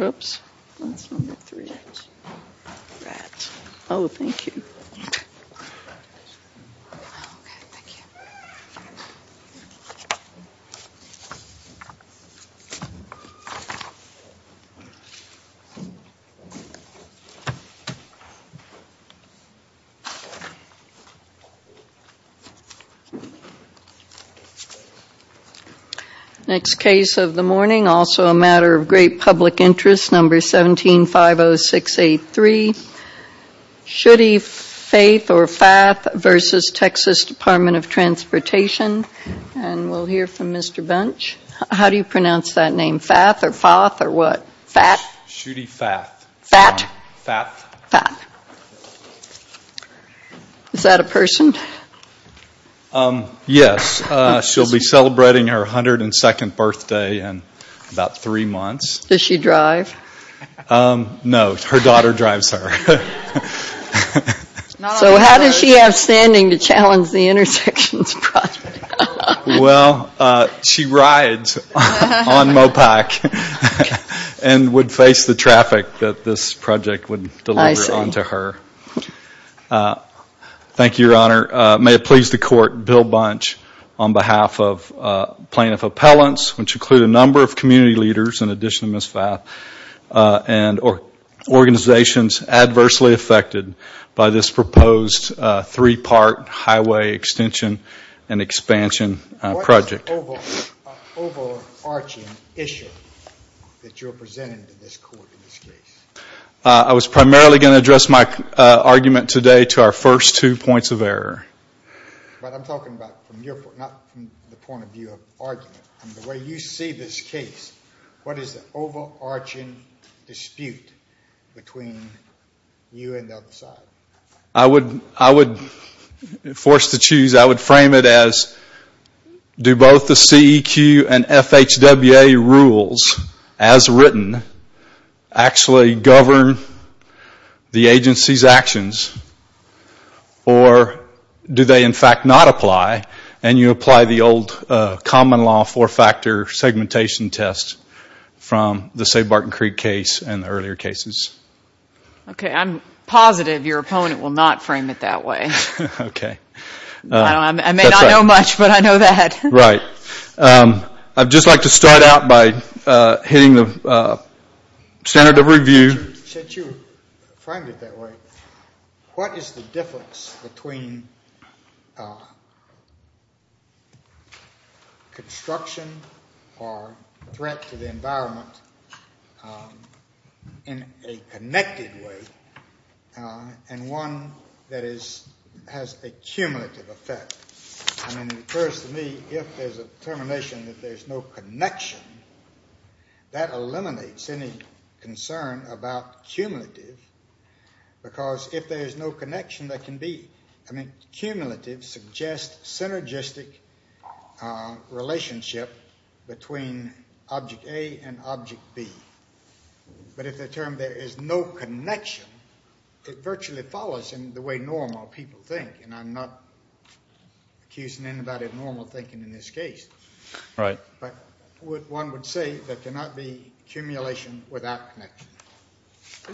Ops, that's number 3, rats. Oh, thank you. Next case of the morning, also a matter of great public interest, number 17-50683, Shudde Fath v. Texas Dept. of Transportation, and we'll hear from Mr. Bunch. How do you pronounce that name, Fath or Fath or what? Fath? Shudde Fath. Fath? Fath. Fath. Is that a person? Yes, she'll be celebrating her 102nd birthday in about three months. Does she drive? No, her daughter drives her. So how does she have standing to challenge the intersections project? Well, she rides on Mopac and would face the traffic that this project would deliver onto her. Thank you, Your Honor. May it please the Court, Bill Bunch, on behalf of plaintiff appellants, which include a number of community leaders in addition to Ms. Fath, and organizations adversely affected by this proposed three-part highway extension and expansion project. What is the overarching issue that you're presenting to this Court in this case? I was primarily going to address my argument today to our first two points of error. But I'm talking about from your point of view, not from the point of view of argument. The way you see this case, what is the overarching dispute between you and the other side? I would, forced to choose, I would frame it as do both the CEQ and FHWA rules, as written, actually govern the agency's actions, or do they, in fact, not apply? And you apply the old common law four-factor segmentation test from the Say Barton Creek case and the earlier cases. Okay, I'm positive your opponent will not frame it that way. Okay. I may not know much, but I know that. Right. I'd just like to start out by hitting the standard of review. Since you framed it that way, what is the difference between construction or threat to the environment in a connected way and one that has a cumulative effect? I mean, it occurs to me, if there's a determination that there's no connection, that eliminates any concern about cumulative, because if there's no connection, there can be. I mean, cumulative suggests synergistic relationship between object A and object B. But if the term there is no connection, it virtually follows in the way normal people think, and I'm not accusing anybody of normal thinking in this case. Right. But one would say there cannot be accumulation without connection.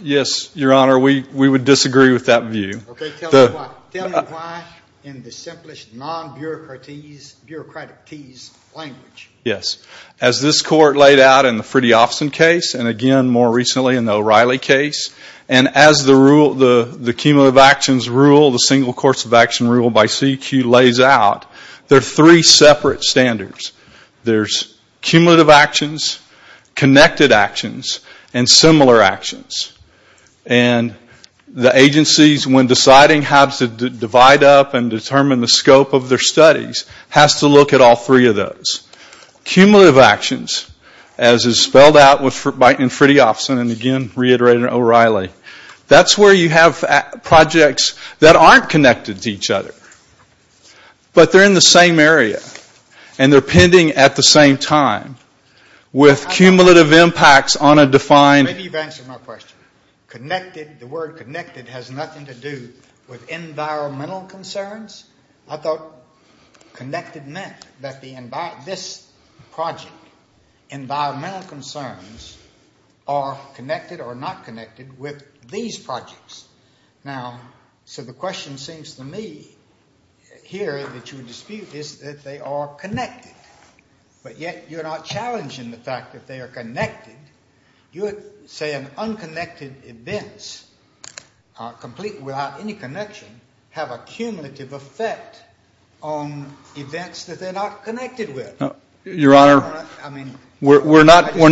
Yes, Your Honor, we would disagree with that view. Okay, tell me why. Tell me why in the simplest, non-bureaucratic teased language. Yes. As this Court laid out in the Freddie Offison case and, again, more recently in the O'Reilly case, and as the cumulative actions rule, the single course of action rule by CEQ lays out, there are three separate standards. There's cumulative actions, connected actions, and similar actions. And the agencies, when deciding how to divide up and determine the scope of their studies, has to look at all three of those. Cumulative actions, as is spelled out in Freddie Offison and, again, reiterated in O'Reilly, that's where you have projects that aren't connected to each other, but they're in the same area and they're pending at the same time. With cumulative impacts on a defined... Maybe you've answered my question. Connected, the word connected has nothing to do with environmental concerns. I thought connected meant that this project, environmental concerns, are connected or not connected with these projects. Now, so the question seems to me here that you dispute is that they are connected, but yet you're not challenging the fact that they are connected. You're saying unconnected events, complete without any connection, have a cumulative effect on events that they're not connected with. Your Honor, we're not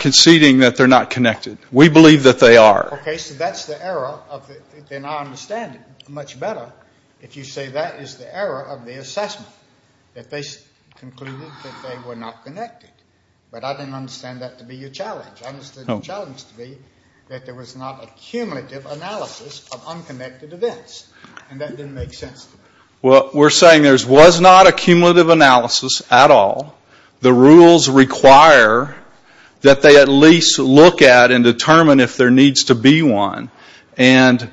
conceding that they're not connected. We believe that they are. Okay, so that's the error of the... Then I understand it much better if you say that is the error of the assessment, that they concluded that they were not connected. But I didn't understand that to be your challenge. I understood your challenge to be that there was not a cumulative analysis of unconnected events, and that didn't make sense to me. Well, we're saying there was not a cumulative analysis at all. The rules require that they at least look at and determine if there needs to be one, and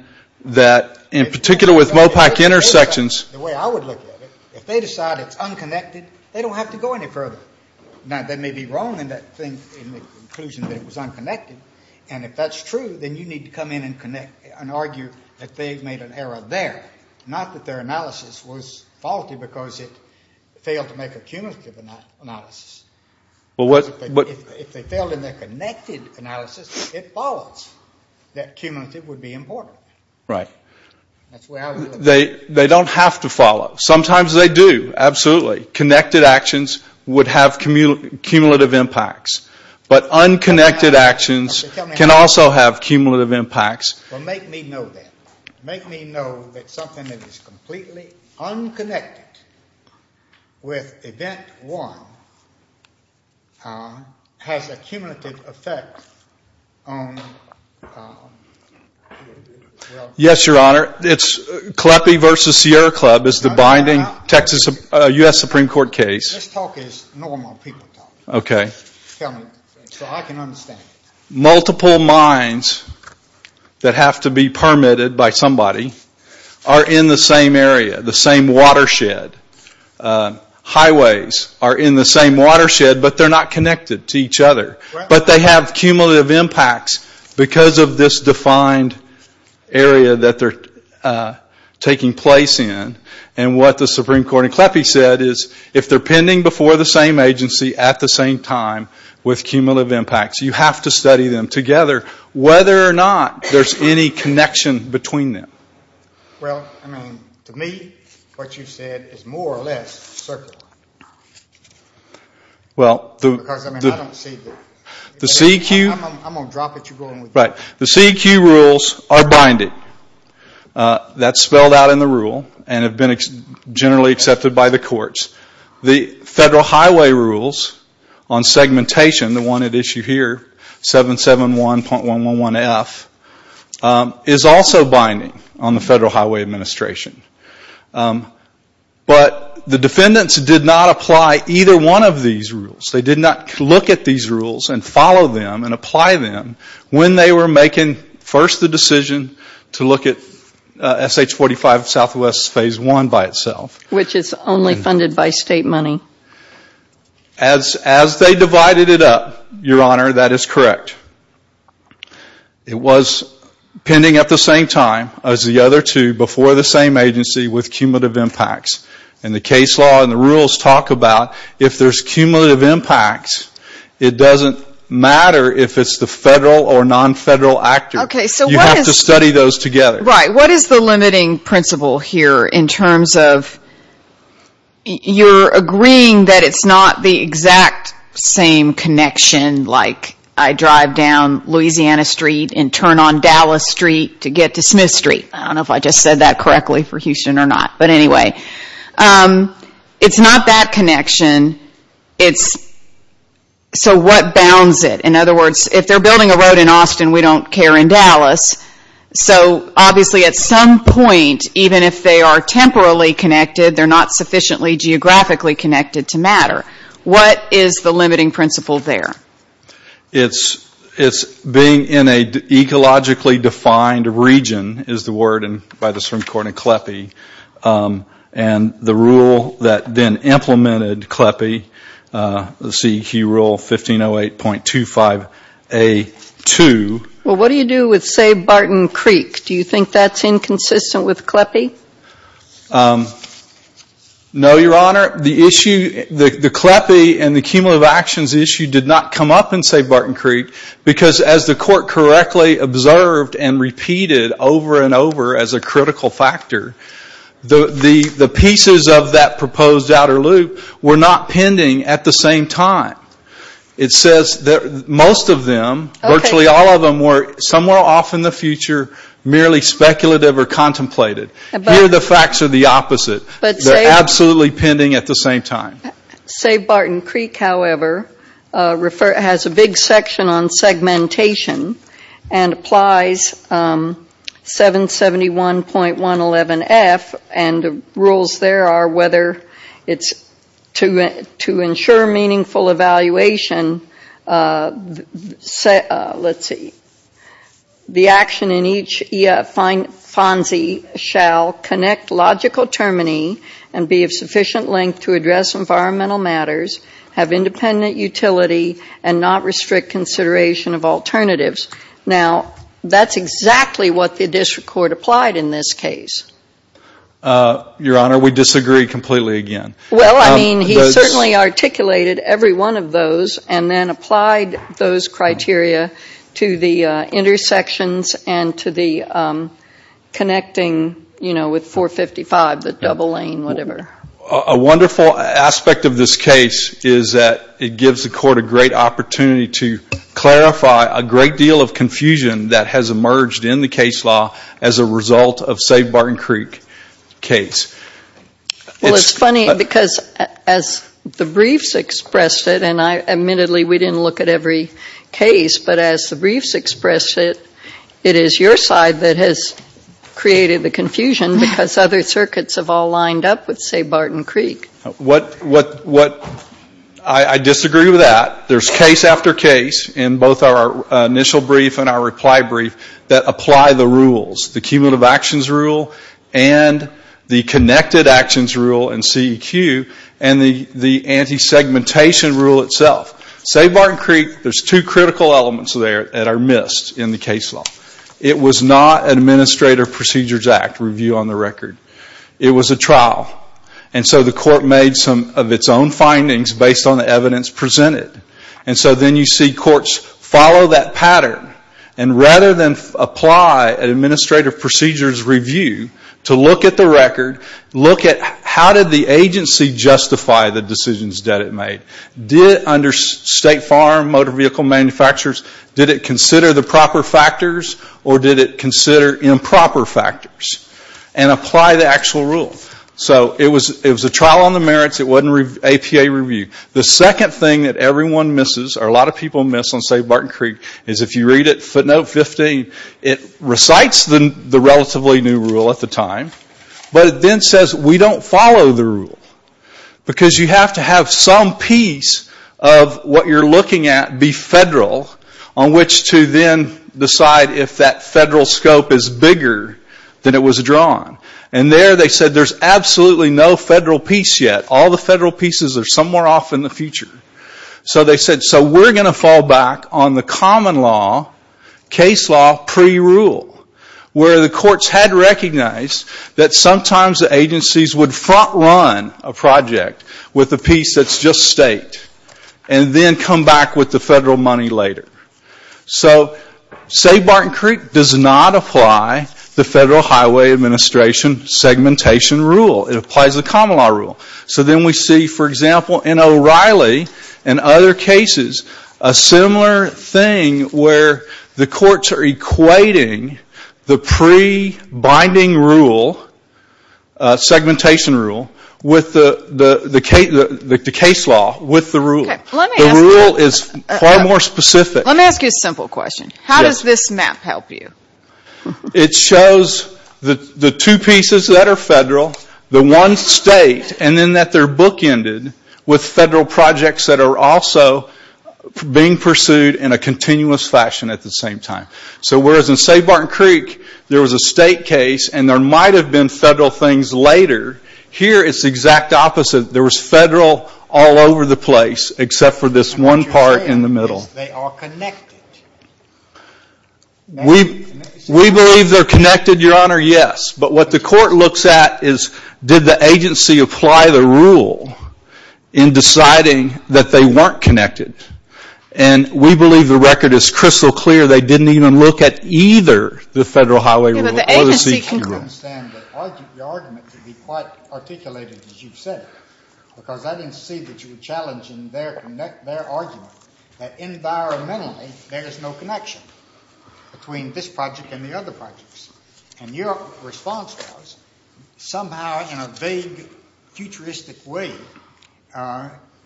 that in particular with MOPAC intersections... The way I would look at it, if they decide it's unconnected, they don't have to go any further. Now, that may be wrong in the conclusion that it was unconnected, and if that's true, then you need to come in and argue that they've made an error there, not that their analysis was faulty because it failed to make a cumulative analysis. If they failed in their connected analysis, it follows that cumulative would be important. Right. That's the way I would look at it. They don't have to follow. Sometimes they do, absolutely. Connected actions would have cumulative impacts, but unconnected actions can also have cumulative impacts. Well, make me know that. Make me know that something that is completely unconnected with event one has a cumulative effect on... Yes, Your Honor. CLEPI v. Sierra Club is the binding Texas U.S. Supreme Court case. This talk is normal people talk. Okay. So I can understand. Multiple mines that have to be permitted by somebody are in the same area, the same watershed. Highways are in the same watershed, but they're not connected to each other. But they have cumulative impacts because of this defined area that they're taking place in. And what the Supreme Court in CLEPI said is if they're pending before the same agency at the same time with cumulative impacts, you have to study them together, whether or not there's any connection between them. Well, I mean, to me what you said is more or less circular. Because, I mean, I don't see the... The CEQ... I'm going to drop it. You go on with it. Right. The CEQ rules are binding. That's spelled out in the rule and have been generally accepted by the courts. The Federal Highway Rules on segmentation, the one at issue here, 771.111F, is also binding on the Federal Highway Administration. But the defendants did not apply either one of these rules. They did not look at these rules and follow them and apply them when they were making, first, the decision to look at SH-45 Southwest Phase 1 by itself. Which is only funded by state money. As they divided it up, Your Honor, that is correct. It was pending at the same time as the other two before the same agency with cumulative impacts. And the case law and the rules talk about if there's cumulative impacts, it doesn't matter if it's the federal or non-federal actor. You have to study those together. Right. What is the limiting principle here in terms of you're agreeing that it's not the exact same connection, like I drive down Louisiana Street and turn on Dallas Street to get to Smith Street. I don't know if I just said that correctly for Houston or not. But anyway, it's not that connection. It's so what bounds it? In other words, if they're building a road in Austin, we don't care in Dallas. So obviously at some point, even if they are temporally connected, they're not sufficiently geographically connected to matter. What is the limiting principle there? It's being in an ecologically defined region is the word by the Supreme Court in CLEPE. And the rule that then implemented CLEPE, the CEQ rule 1508.25A2. Well, what do you do with, say, Barton Creek? Do you think that's inconsistent with CLEPE? No, Your Honor. The issue, the CLEPE and the cumulative actions issue did not come up in, say, Barton Creek because as the court correctly observed and repeated over and over as a critical factor, the pieces of that proposed outer loop were not pending at the same time. It says that most of them, virtually all of them, were somewhere off in the future, merely speculative or contemplated. Here the facts are the opposite. They're absolutely pending at the same time. Say Barton Creek, however, has a big section on segmentation and applies 771.11F and the rules there are whether it's to ensure meaningful evaluation, let's see, the action in each FONSI shall connect logical termini and be of sufficient length to address environmental matters, have independent utility, and not restrict consideration of alternatives. Now, that's exactly what the district court applied in this case. Your Honor, we disagree completely again. Well, I mean, he certainly articulated every one of those and then applied those criteria to the intersections and to the connecting, you know, with 455, the double lane, whatever. A wonderful aspect of this case is that it gives the court a great opportunity to clarify a great deal of confusion that has emerged in the case law as a result of, say, Barton Creek case. Well, it's funny because as the briefs expressed it, and admittedly we didn't look at every case, but as the briefs expressed it, it is your side that has created the confusion because other circuits have all lined up with, say, Barton Creek. I disagree with that. There's case after case in both our initial brief and our reply brief that apply the rules, the cumulative actions rule and the connected actions rule in CEQ and the anti-segmentation rule itself. Say, Barton Creek, there's two critical elements there that are missed in the case law. It was not an Administrative Procedures Act review on the record. It was a trial. And so the court made some of its own findings based on the evidence presented. And so then you see courts follow that pattern. And rather than apply an Administrative Procedures review to look at the record, look at how did the agency justify the decisions that it made. Did it under State Farm Motor Vehicle Manufacturers, did it consider the proper factors or did it consider improper factors and apply the actual rules. So it was a trial on the merits. It wasn't an APA review. The second thing that everyone misses or a lot of people miss on, say, Barton Creek is if you read it, footnote 15, it recites the relatively new rule at the time. But it then says we don't follow the rule. Because you have to have some piece of what you're looking at be federal on which to then decide if that federal scope is bigger than it was drawn. And there they said there's absolutely no federal piece yet. All the federal pieces are somewhere off in the future. So they said so we're going to fall back on the common law, case law pre-rule where the courts had recognized that sometimes the agencies would front run a project with a piece that's just State and then come back with the federal money later. So say Barton Creek does not apply the Federal Highway Administration segmentation rule. It applies the common law rule. So then we see, for example, in O'Reilly and other cases, a similar thing where the courts are equating the pre-binding rule, segmentation rule, with the case law, with the rule. The rule is far more specific. Let me ask you a simple question. How does this map help you? It shows the two pieces that are federal, the one State, and then that they're bookended with federal projects that are also being pursued in a continuous fashion at the same time. So whereas in, say, Barton Creek, there was a State case and there might have been federal things later, here it's the exact opposite. There was federal all over the place except for this one part in the middle. They are connected. We believe they're connected, Your Honor, yes. But what the court looks at is did the agency apply the rule in deciding that they weren't connected. And we believe the record is crystal clear they didn't even look at either the federal highway rule or the CQ rule. I understand your argument to be quite articulated as you've said it, because I didn't see that you were challenging their argument that environmentally there is no connection between this project and the other projects. And your response was somehow in a vague, futuristic way,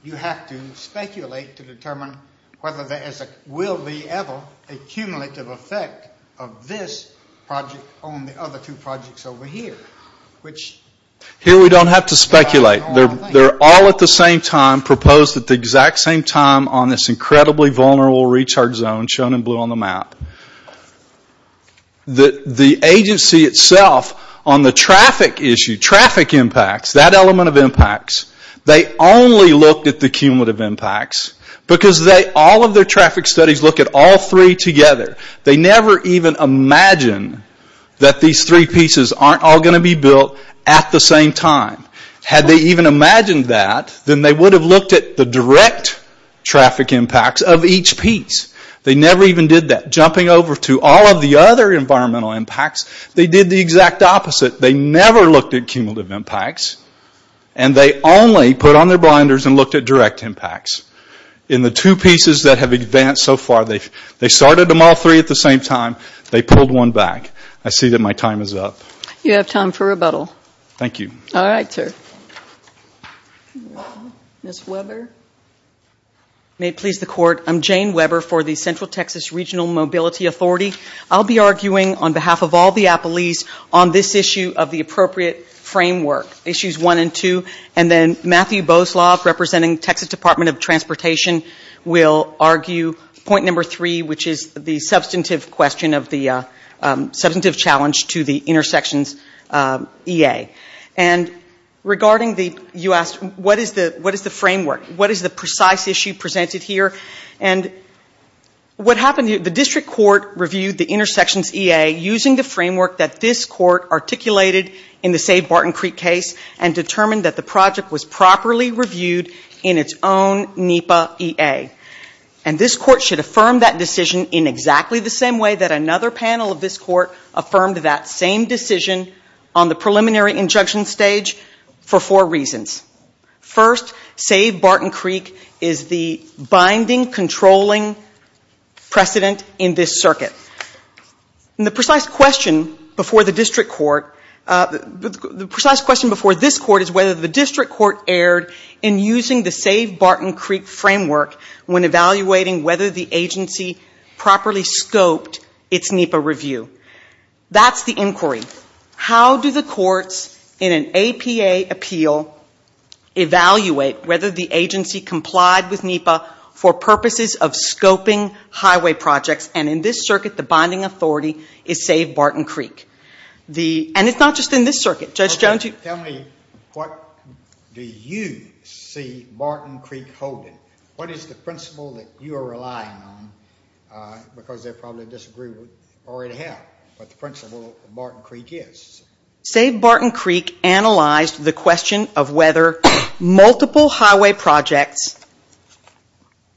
you have to speculate to determine whether there will be ever a cumulative effect of this project on the other two projects over here. Here we don't have to speculate. They're all at the same time proposed at the exact same time on this incredibly vulnerable recharge zone shown in blue on the map. The agency itself on the traffic issue, traffic impacts, that element of impacts, they only looked at the cumulative impacts because all of their traffic studies look at all three together. They never even imagine that these three pieces aren't all going to be built at the same time. Had they even imagined that, then they would have looked at the direct traffic impacts of each piece. They never even did that. Jumping over to all of the other environmental impacts, they did the exact opposite. They never looked at cumulative impacts. And they only put on their blinders and looked at direct impacts. In the two pieces that have advanced so far, they started them all three at the same time. They pulled one back. I see that my time is up. You have time for rebuttal. Thank you. All right, sir. Ms. Weber. May it please the Court, I'm Jane Weber for the Central Texas Regional Mobility Authority. I'll be arguing on behalf of all the appellees on this issue of the appropriate framework, issues one and two. And then Matthew Bosloff, representing Texas Department of Transportation, will argue point number three, which is the substantive question of the substantive challenge to the intersections EA. And regarding the US, what is the framework? What is the precise issue presented here? And what happened here, the district court reviewed the intersections EA using the framework that this court articulated in the Save Barton Creek case and determined that the project was properly reviewed in its own NEPA EA. And this court should affirm that decision in exactly the same way that another panel of this court affirmed that same decision on the preliminary injunction stage for four reasons. First, Save Barton Creek is the binding, controlling precedent in this circuit. And the precise question before the district court, the precise question before this court is whether the district court erred in using the Save Barton Creek framework when evaluating whether the agency properly scoped its NEPA review. That's the inquiry. How do the courts in an APA appeal evaluate whether the agency complied with NEPA for purposes of scoping highway projects and in this circuit the binding authority is Save Barton Creek. And it's not just in this circuit. Judge Jones, you... Tell me, what do you see Barton Creek holding? What is the principle that you are relying on? Because they probably disagree already have what the principle of Barton Creek is. Save Barton Creek analyzed the question of whether multiple highway projects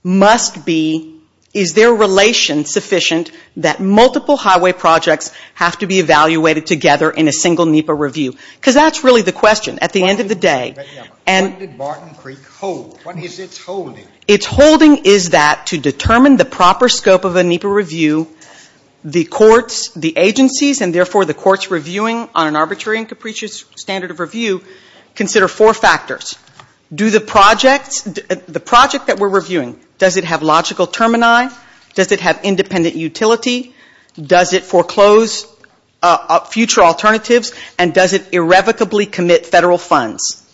must be, is their relation sufficient that multiple highway projects have to be evaluated together in a single NEPA review. Because that's really the question at the end of the day. What did Barton Creek hold? What is its holding? Its holding is that to determine the proper scope of a NEPA review, the courts, the agencies, and therefore the courts reviewing on an arbitrary and capricious standard of review, consider four factors. Do the projects, the project that we're reviewing, does it have logical termini? Does it have independent utility? Does it foreclose future alternatives? And does it irrevocably commit federal funds?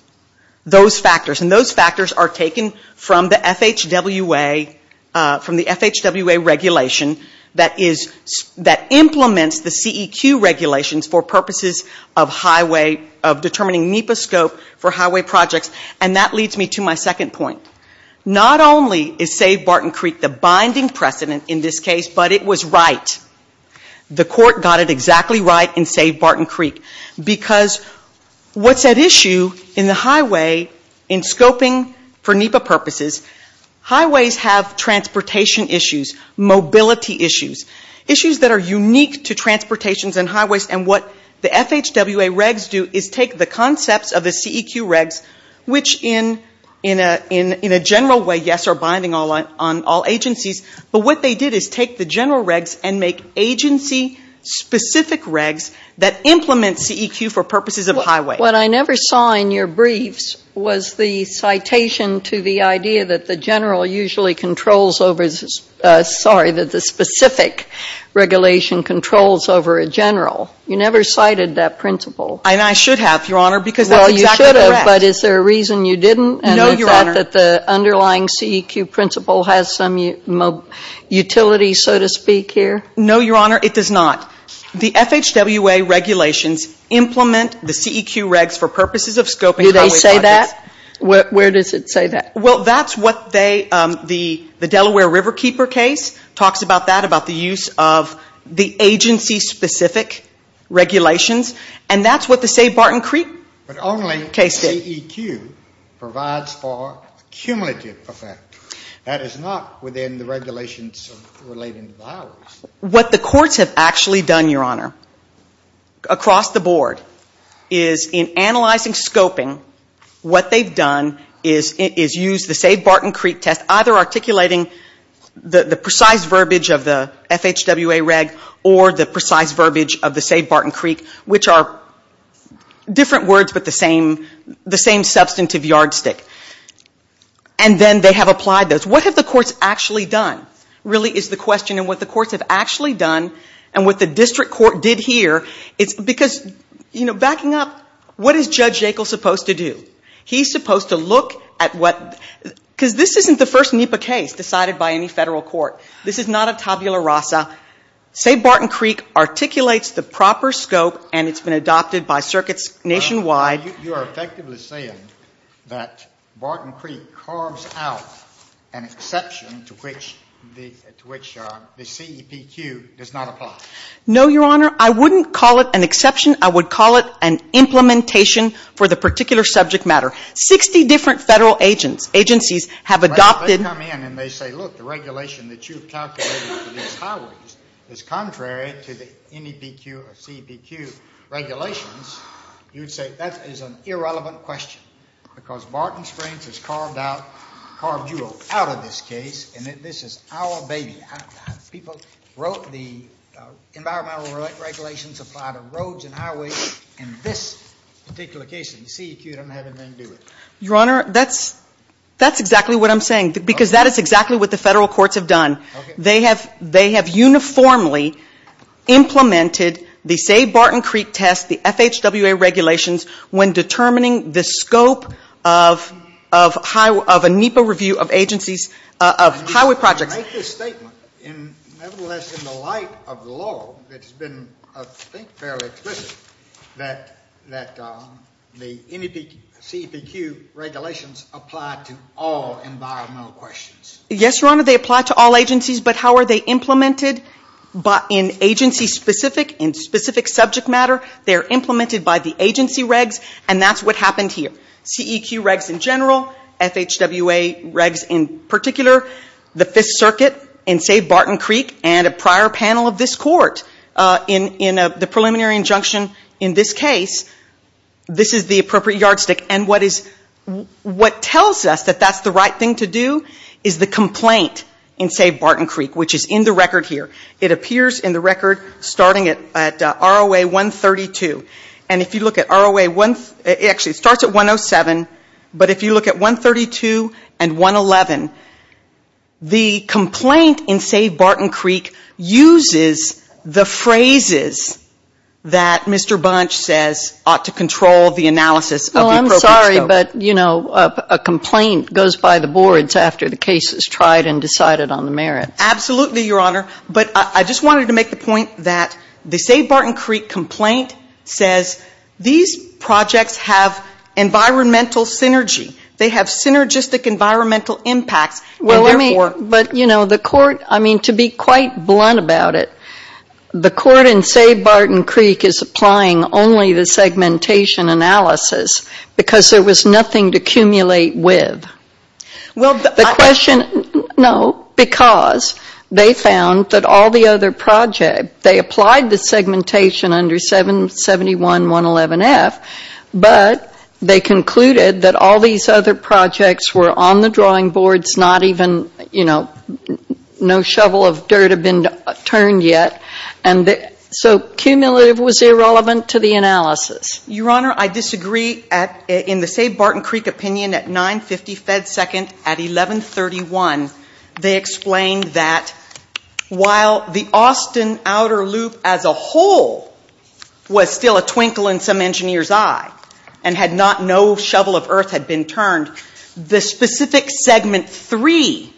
Those factors. And those factors are taken from the FHWA, from the FHWA regulation that is, that implements the CEQ regulations for purposes of highway, of determining NEPA scope for highway projects. And that leads me to my second point. Not only is Save Barton Creek the binding precedent in this case, but it was right. The court got it exactly right in Save Barton Creek. Because what's at issue in the highway, in scoping for NEPA purposes, highways have transportation issues, mobility issues, issues that are unique to transportations and highways. And what the FHWA regs do is take the concepts of the CEQ regs, which in a general way, yes, are binding on all agencies. But what they did is take the general regs and make agency-specific regs that implement CEQ for purposes of highway. What I never saw in your briefs was the citation to the idea that the general usually controls over, sorry, that the specific regulation controls over a general. You never cited that principle. And I should have, Your Honor, because that's exactly correct. Well, you should have. No, Your Honor. Is that that the underlying CEQ principle has some utility, so to speak, here? No, Your Honor, it does not. The FHWA regulations implement the CEQ regs for purposes of scoping highway projects. Do they say that? Where does it say that? Well, that's what they, the Delaware Riverkeeper case talks about that, about the use of the agency-specific regulations. And that's what the Save Barton Creek case did. The CEQ provides for cumulative effect. That is not within the regulations relating to highways. What the courts have actually done, Your Honor, across the board, is in analyzing scoping, what they've done is use the Save Barton Creek test, either articulating the precise verbiage of the FHWA reg or the precise verbiage of the Save Barton Creek, which are different words but the same substantive yardstick. And then they have applied those. What have the courts actually done, really, is the question. And what the courts have actually done and what the district court did here, it's because, you know, backing up, what is Judge Yackel supposed to do? He's supposed to look at what, because this isn't the first NEPA case decided by any federal court. This is not a tabula rasa. Save Barton Creek articulates the proper scope and it's been adopted by circuits nationwide. You are effectively saying that Barton Creek carves out an exception to which the CEPQ does not apply. No, Your Honor. I wouldn't call it an exception. I would call it an implementation for the particular subject matter. Sixty different federal agencies have adopted. If they come in and they say, look, the regulation that you've calculated for these highways is contrary to the NEPQ or CEPQ regulations, you would say that is an irrelevant question because Barton Springs has carved you out of this case and this is our baby. People wrote the environmental regulations applied to roads and highways in this particular case. The CEPQ didn't have anything to do with it. Your Honor, that's exactly what I'm saying because that is exactly what the federal courts have done. They have uniformly implemented the Save Barton Creek test, the FHWA regulations, when determining the scope of a NEPA review of highway projects. Nevertheless, in the light of the law, it's been, I think, fairly explicit that the CEPQ regulations apply to all environmental questions. Yes, Your Honor, they apply to all agencies, but how are they implemented? In agency-specific, in specific subject matter, they are implemented by the agency regs, and that's what happened here. CEQ regs in general, FHWA regs in particular, the Fifth Circuit in Save Barton Creek, and a prior panel of this Court in the preliminary injunction in this case, this is the appropriate yardstick. And what tells us that that's the right thing to do is the complaint in Save Barton Creek, which is in the record here. It appears in the record starting at ROA 132. And if you look at ROA, it actually starts at 107, but if you look at 132 and 111, the complaint in Save Barton Creek uses the phrases that Mr. Bunch says ought to control the analysis of the appropriate scope. Well, I'm sorry, but, you know, a complaint goes by the boards after the case is tried and decided on the merits. Absolutely, Your Honor. But I just wanted to make the point that the Save Barton Creek complaint says these projects have environmental synergy. They have synergistic environmental impacts. Well, let me, but, you know, the Court, I mean, to be quite blunt about it, the Court in Save Barton Creek is applying only the segmentation analysis because there was nothing to accumulate with. Well, the question, no, because they found that all the other projects, they applied the segmentation under 771-111-F, but they concluded that all these other projects were on the drawing boards, not even, you know, no shovel of dirt had been turned yet. And so cumulative was irrelevant to the analysis. Your Honor, I disagree in the Save Barton Creek opinion at 950 Fed Second at 1131. They explained that while the Austin outer loop as a whole was still a twinkle in some engineer's eye and had not, no shovel of earth had been turned, the specific segment three,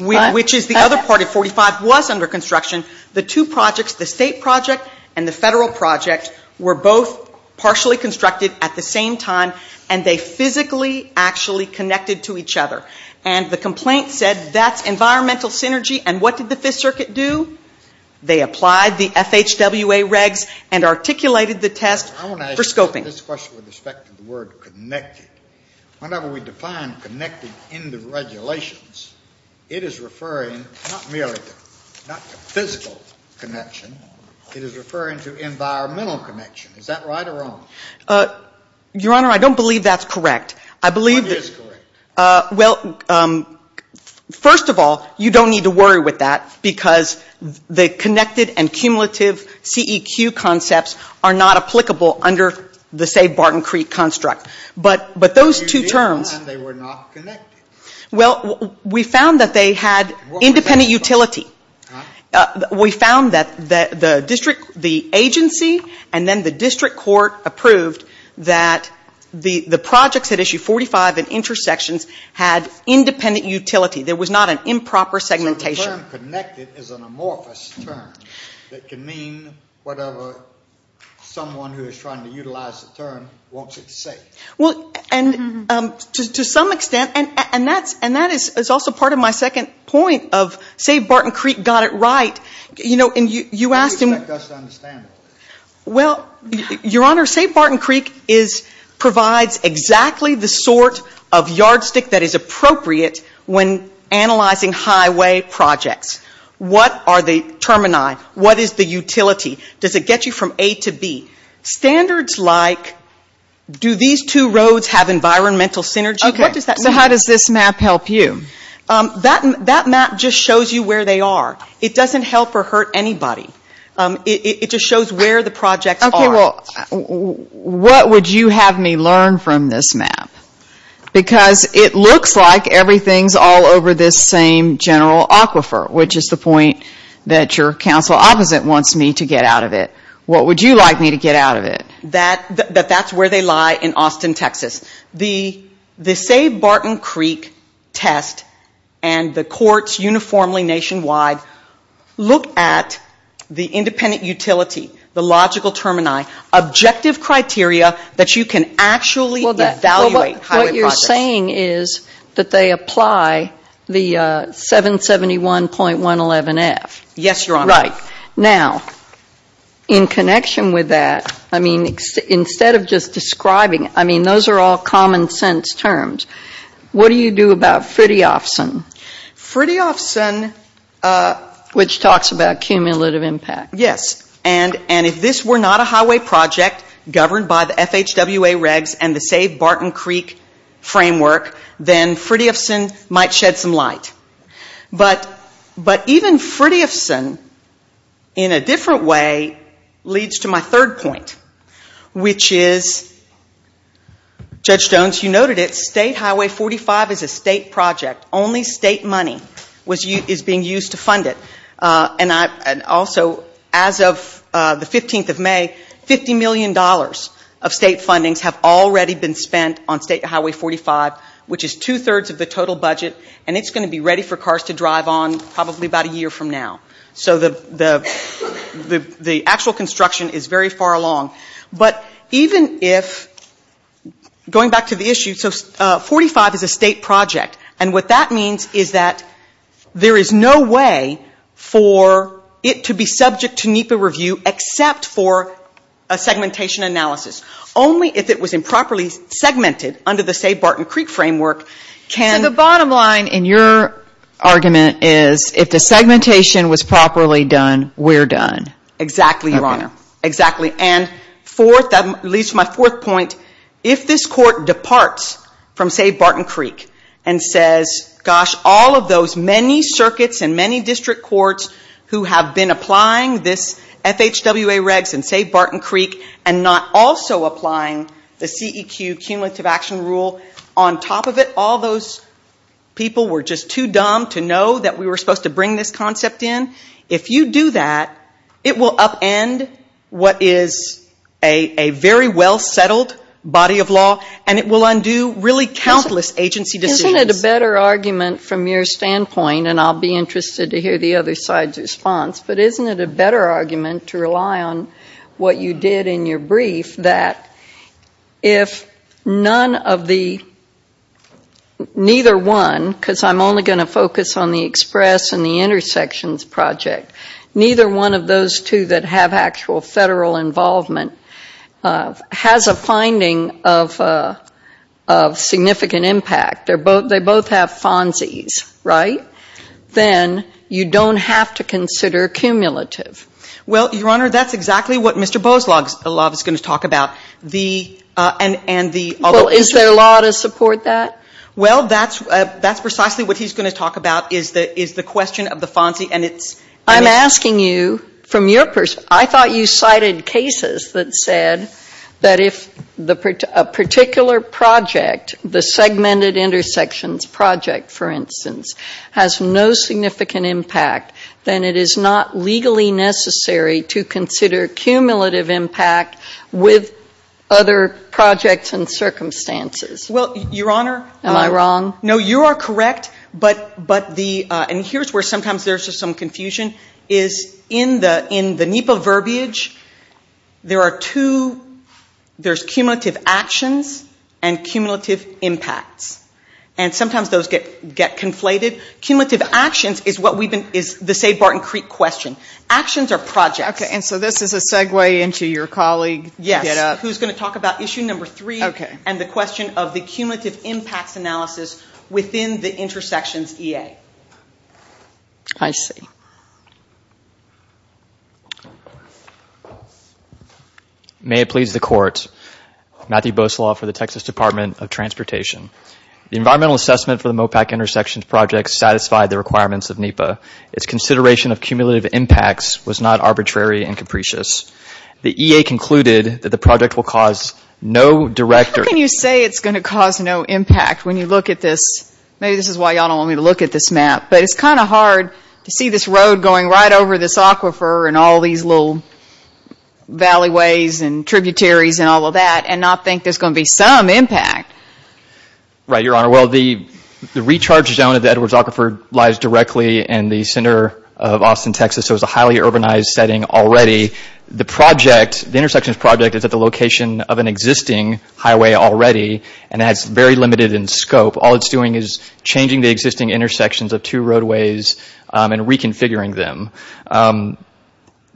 which is the other part of 45, was under construction. The two projects, the state project and the federal project, were both partially constructed at the same time and they physically actually connected to each other. And the complaint said that's environmental synergy. And what did the Fifth Circuit do? They applied the FHWA regs and articulated the test for scoping. I want to ask you about this question with respect to the word connected. Whenever we define connected in the regulations, it is referring not merely to physical connection. It is referring to environmental connection. Is that right or wrong? Your Honor, I don't believe that's correct. I believe that – What is correct? Well, first of all, you don't need to worry with that because the connected and cumulative CEQ concepts are not applicable under the Save Barton Creek construct. But those two terms – But you did plan they were not connected. Well, we found that they had independent utility. We found that the agency and then the district court approved that the projects at issue 45 and intersections had independent utility. There was not an improper segmentation. So the term connected is an amorphous term that can mean whatever someone who is trying to utilize the term wants it to say. Well, and to some extent – and that is also part of my second point of Save Barton Creek got it right. You know, and you asked him – What do you expect us to understand? Well, Your Honor, Save Barton Creek provides exactly the sort of yardstick that is appropriate when analyzing highway projects. What are the termini? What is the utility? Does it get you from A to B? Standards like do these two roads have environmental synergy? What does that mean? Okay, so how does this map help you? That map just shows you where they are. It doesn't help or hurt anybody. It just shows where the projects are. Okay, well, what would you have me learn from this map? Because it looks like everything is all over this same general aquifer, which is the point that your counsel opposite wants me to get out of it. What would you like me to get out of it? That that's where they lie in Austin, Texas. The Save Barton Creek test and the courts uniformly nationwide look at the independent utility, the logical termini, objective criteria that you can actually evaluate highway projects. What you're saying is that they apply the 771.111F. Yes, Your Honor. Right. Now, in connection with that, I mean, instead of just describing it, I mean, those are all common sense terms. What do you do about Fridtjofsen? Fridtjofsen. Which talks about cumulative impact. Yes. And if this were not a highway project governed by the FHWA regs and the Save Barton Creek framework, then Fridtjofsen might shed some light. But even Fridtjofsen, in a different way, leads to my third point, which is, Judge Jones, you noted it, State Highway 45 is a state project. Only state money is being used to fund it. And also, as of the 15th of May, $50 million of state fundings have already been spent on State Highway 45, which is two-thirds of the total budget. And it's going to be ready for cars to drive on probably about a year from now. So the actual construction is very far along. But even if, going back to the issue, so 45 is a state project. And what that means is that there is no way for it to be subject to NEPA review except for a segmentation analysis. Only if it was improperly segmented under the Save Barton Creek framework can... So the bottom line in your argument is, if the segmentation was properly done, we're done. Exactly, Your Honor. Okay. Exactly. And fourth, that leads to my fourth point, if this court departs from Save Barton Creek and says, gosh, all of those many circuits and many district courts who have been applying this FHWA regs and Save Barton Creek and not also applying the CEQ, Cumulative Action Rule, on top of it, all those people were just too dumb to know that we were supposed to bring this concept in. If you do that, it will upend what is a very well-settled body of law, and it will undo really countless agency decisions. Isn't it a better argument from your standpoint, and I'll be interested to hear the other side's response, but isn't it a better argument to rely on what you did in your brief that if none of the, neither one, because I'm only going to focus on the express and the intersections project, neither one of those two that have actual federal involvement has a finding of significant impact? They both have FONCES, right? Then you don't have to consider cumulative. Well, Your Honor, that's exactly what Mr. Boaslaw is going to talk about. The, and the. Well, is there a law to support that? Well, that's precisely what he's going to talk about is the question of the FONCES, and it's. I'm asking you from your, I thought you cited cases that said that if a particular project, the segmented intersections project, for instance, has no significant impact, then it is not legally necessary to consider cumulative impact with other projects and circumstances. Well, Your Honor. Am I wrong? No, you are correct, but the, and here's where sometimes there's just some confusion, is in the NEPA verbiage, there are two, there's cumulative actions and cumulative impacts. And sometimes those get conflated. Cumulative actions is what we've been, is the, say, Barton Creek question. Actions are projects. Okay, and so this is a segue into your colleague. Yes. Who's going to talk about issue number three. Okay. And the question of the cumulative impacts analysis within the intersections EA. I see. May it please the Court. Matthew Boseloff for the Texas Department of Transportation. The environmental assessment for the MOPAC intersections project satisfied the requirements of NEPA. Its consideration of cumulative impacts was not arbitrary and capricious. The EA concluded that the project will cause no direct or How can you say it's going to cause no impact when you look at this? Maybe this is why you all don't want me to look at this map, but it's kind of hard to see this road going right over this aquifer and all these little valleyways and tributaries and all of that and not think there's going to be some impact. Right, Your Honor. Well, the recharge zone of the Edwards Aquifer lies directly in the center of Austin, Texas, so it's a highly urbanized setting already. The project, the intersections project is at the location of an existing highway already and that's very limited in scope. All it's doing is changing the existing intersections of two roadways and reconfiguring them.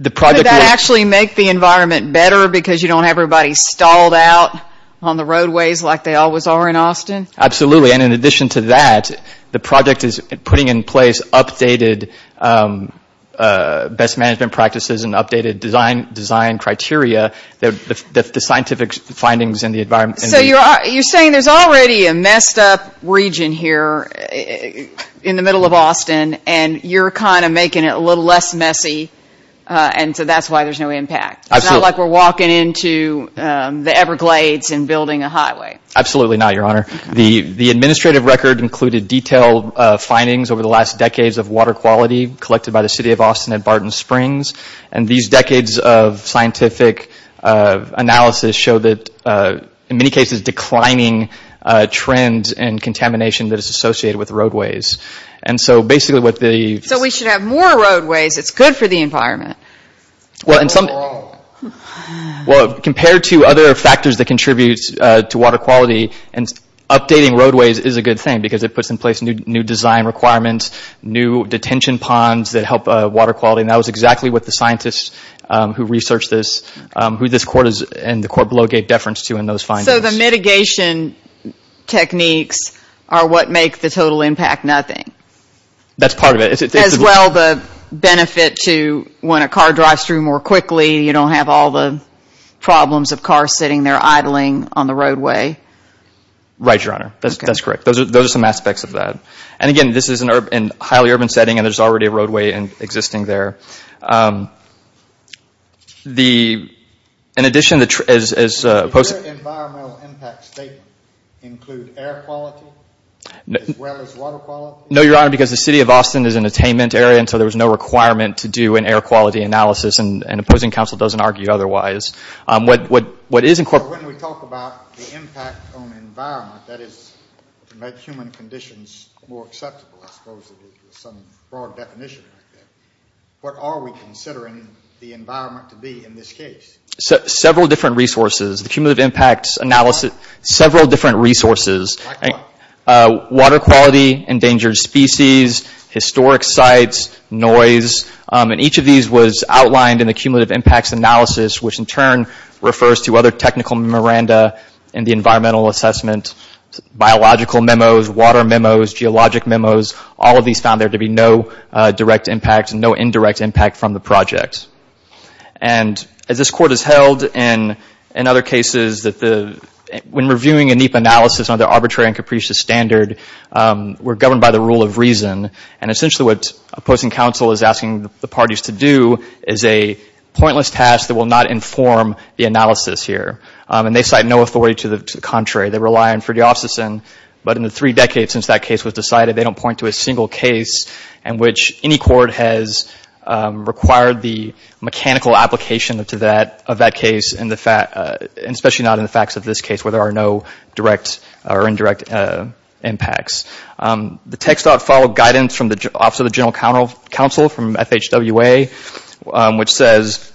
Could that actually make the environment better because you don't have everybody stalled out on the roadways like they always are in Austin? Absolutely. And in addition to that, the project is putting in place updated best management practices and updated design criteria that the scientific findings in the environment So you're saying there's already a messed up region here in the middle of Austin and you're kind of making it a little less messy and so that's why there's no impact. Absolutely. It's not like we're walking into the Everglades and building a highway. Absolutely not, Your Honor. The administrative record included detailed findings over the last decades of water quality collected by the City of Austin at Barton Springs and these decades of scientific analysis show that in many cases declining trends and contamination that is associated with roadways. And so basically what the... So we should have more roadways. It's good for the environment. Well, compared to other factors that contribute to water quality and updating roadways is a good thing because it puts in place new design requirements, new detention ponds that help water quality and that was exactly what the scientists who researched this, who this court and the court below gave deference to in those findings. So the mitigation techniques are what make the total impact nothing? That's part of it. As well the benefit to when a car drives through more quickly, you don't have all the problems of cars sitting there idling on the roadway? Right, Your Honor. That's correct. Those are some aspects of that. And again, this is in a highly urban setting and there's already a roadway existing there. In addition, as opposed to... Did your environmental impact statement include air quality as well as water quality? No, Your Honor, because the City of Austin is an attainment area and so there was no requirement to do an air quality analysis and opposing counsel doesn't argue otherwise. When we talk about the impact on the environment, that is to make human conditions more acceptable, I suppose is some broad definition. What are we considering the environment to be in this case? Several different resources. The cumulative impacts analysis, several different resources. Like what? Water quality, endangered species, historic sites, noise, and each of these was outlined in the cumulative impacts analysis which in turn refers to other technical miranda in the environmental assessment. Biological memos, water memos, geologic memos, all of these found there to be no direct impact and no indirect impact from the project. And as this Court has held in other cases, when reviewing a NEPA analysis under arbitrary and capricious standard, we're governed by the rule of reason. And essentially what opposing counsel is asking the parties to do is a pointless task that will not inform the analysis here. And they cite no authority to the contrary. They rely on Friedhoff's decision, but in the three decades since that case was decided they don't point to a single case in which any court has required the mechanical application of that case, especially not in the facts of this case where there are no direct or indirect impacts. The tech thought followed guidance from the Office of the General Counsel from FHWA which says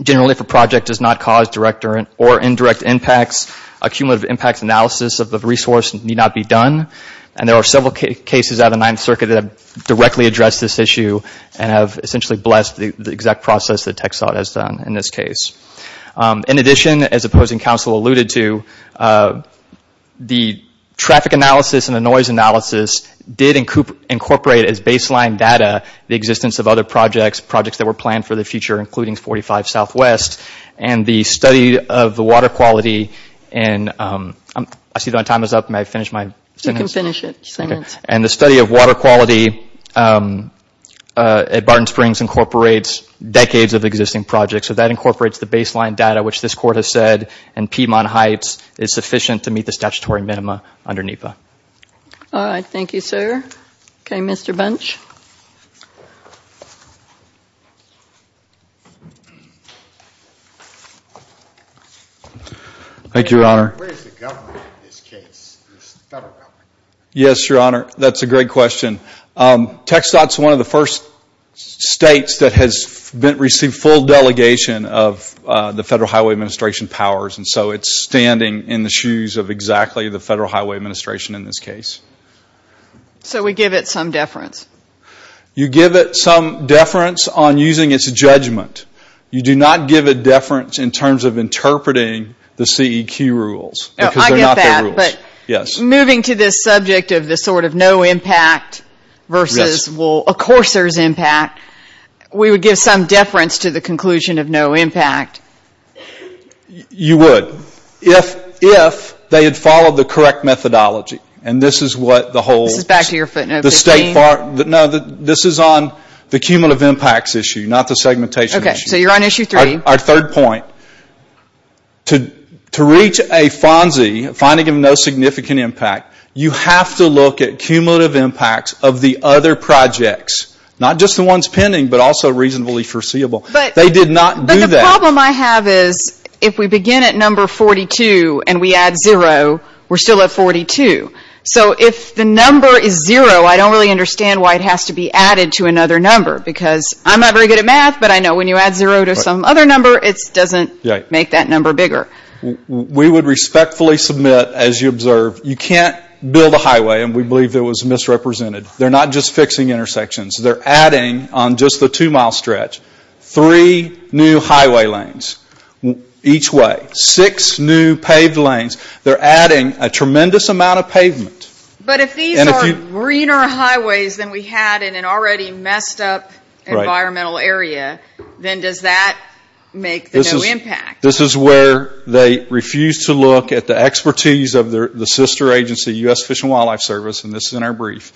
generally if a project does not cause direct or indirect impacts, a cumulative impact analysis of the resource need not be done. And there are several cases out of the Ninth Circuit that have directly addressed this issue and have essentially blessed the exact process that tech thought has done in this case. In addition, as opposing counsel alluded to, the traffic analysis and the noise analysis did incorporate as baseline data the existence of other projects, projects that were planned for the future, including 45 Southwest. And the study of the water quality in – I see my time is up. May I finish my sentence? You can finish it. And the study of water quality at Barton Springs incorporates decades of existing projects. So that incorporates the baseline data which this court has said in Piedmont Heights is sufficient to meet the statutory minima under NEPA. All right. Thank you, sir. Okay, Mr. Bunch. Thank you, Your Honor. Where is the government in this case, the federal government? Yes, Your Honor. That's a great question. Tech thought is one of the first states that has received full delegation of the Federal Highway Administration powers, and so it's standing in the shoes of exactly the Federal Highway Administration in this case. So we give it some deference? You give it some deference on using its judgment. You do not give it deference in terms of interpreting the CEQ rules. I get that. Yes. Moving to this subject of this sort of no impact versus, well, of course there's impact, we would give some deference to the conclusion of no impact. You would. If they had followed the correct methodology, and this is what the whole state part. This is back to your footnote 15. No, this is on the cumulative impacts issue, not the segmentation issue. Okay. So you're on issue three. Our third point, to reach a FONSI, finding of no significant impact, you have to look at cumulative impacts of the other projects, not just the ones pending but also reasonably foreseeable. They did not do that. But the problem I have is if we begin at number 42 and we add zero, we're still at 42. So if the number is zero, I don't really understand why it has to be added to another number because I'm not very good at math, but I know when you add zero to some other number, it doesn't make that number bigger. We would respectfully submit, as you observe, you can't build a highway, and we believe it was misrepresented. They're not just fixing intersections. They're adding on just the two-mile stretch three new highway lanes each way, six new paved lanes. They're adding a tremendous amount of pavement. But if these are greener highways than we had in an already messed-up environmental area, then does that make the no impact? This is where they refuse to look at the expertise of the sister agency, U.S. Fish and Wildlife Service, and this is in our brief.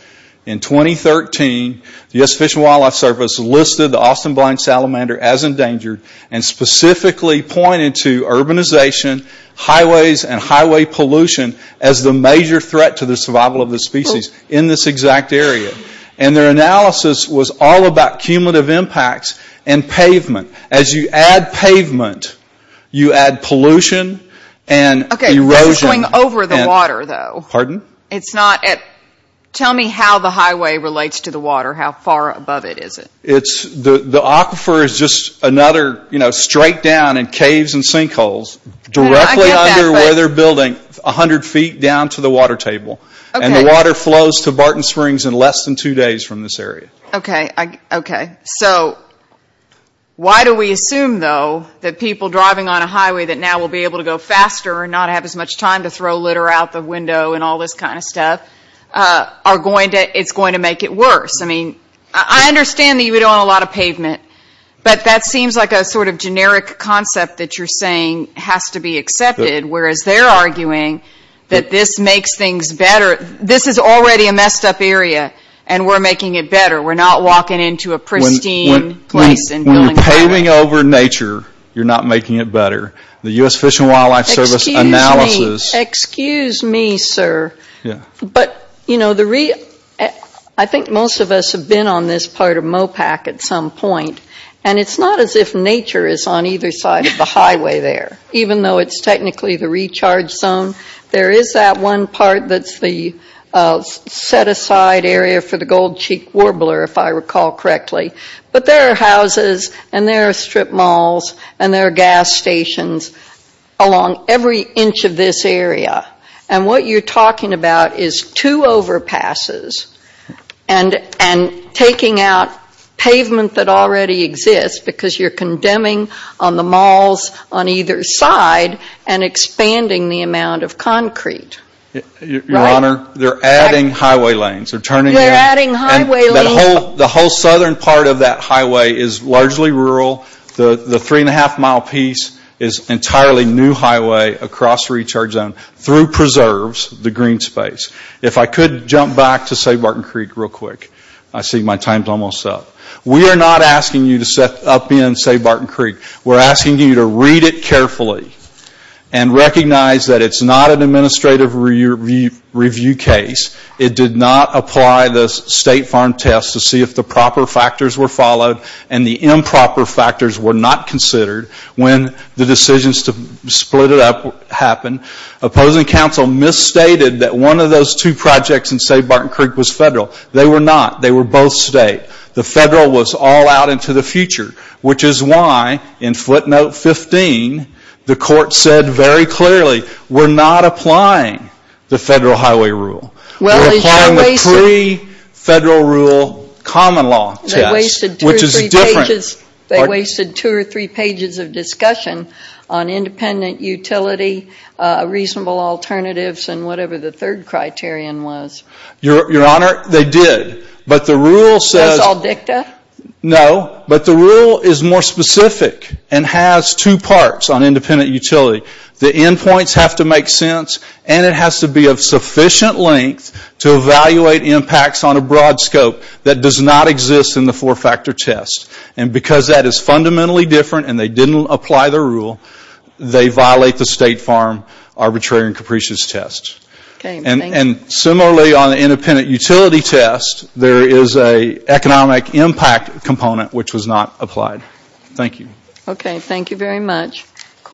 In 2013, the U.S. Fish and Wildlife Service listed the Austin Blind Salamander as endangered and specifically pointed to urbanization, highways, and highway pollution as the major threat to the survival of the species in this exact area. And their analysis was all about cumulative impacts and pavement. As you add pavement, you add pollution and erosion. Okay, this is going over the water, though. Pardon? Tell me how the highway relates to the water. How far above it is it? The aquifer is just another, you know, straight down in caves and sinkholes, directly under where they're building, 100 feet down to the water table. Okay. And the water flows to Barton Springs in less than two days from this area. Okay. Okay. So why do we assume, though, that people driving on a highway that now will be able to go faster and not have as much time to throw litter out the window and all this kind of stuff, it's going to make it worse? I mean, I understand that you don't want a lot of pavement, but that seems like a sort of generic concept that you're saying has to be accepted, whereas they're arguing that this makes things better. This is already a messed-up area, and we're making it better. We're not walking into a pristine place and doing better. When you're paving over nature, you're not making it better. The U.S. Fish and Wildlife Service analysis — Excuse me, sir. Yeah. But, you know, I think most of us have been on this part of Mopac at some point, and it's not as if nature is on either side of the highway there, even though it's technically the recharge zone. There is that one part that's the set-aside area for the Gold Cheek Warbler, if I recall correctly. But there are houses, and there are strip malls, and there are gas stations along every inch of this area. And what you're talking about is two overpasses and taking out pavement that already exists because you're condemning on the malls on either side and expanding the amount of concrete. Your Honor, they're adding highway lanes. They're turning in — They're adding highway lanes. The whole southern part of that highway is largely rural. The three-and-a-half-mile piece is entirely new highway across recharge zone through preserves, the green space. If I could jump back to Sabarton Creek real quick. I see my time's almost up. We are not asking you to step up in Sabarton Creek. We're asking you to read it carefully and recognize that it's not an administrative review case. It did not apply the state farm test to see if the proper factors were followed and the improper factors were not considered when the decisions to split it up happened. Opposing counsel misstated that one of those two projects in Sabarton Creek was federal. They were not. They were both state. The federal was all out into the future, which is why, in footnote 15, the court said very clearly, we're not applying the federal highway rule. We're applying the pre-federal rule common law test, which is different. They wasted two or three pages of discussion on independent utility, reasonable alternatives, and whatever the third criterion was. Your Honor, they did. But the rule says. That's all dicta? No. But the rule is more specific and has two parts on independent utility. The endpoints have to make sense and it has to be of sufficient length to evaluate impacts on a broad scope that does not exist in the four-factor test. And because that is fundamentally different and they didn't apply the rule, they violate the state farm arbitrary and capricious test. And similarly, on the independent utility test, there is an economic impact component, which was not applied. Thank you. Okay. Thank you very much.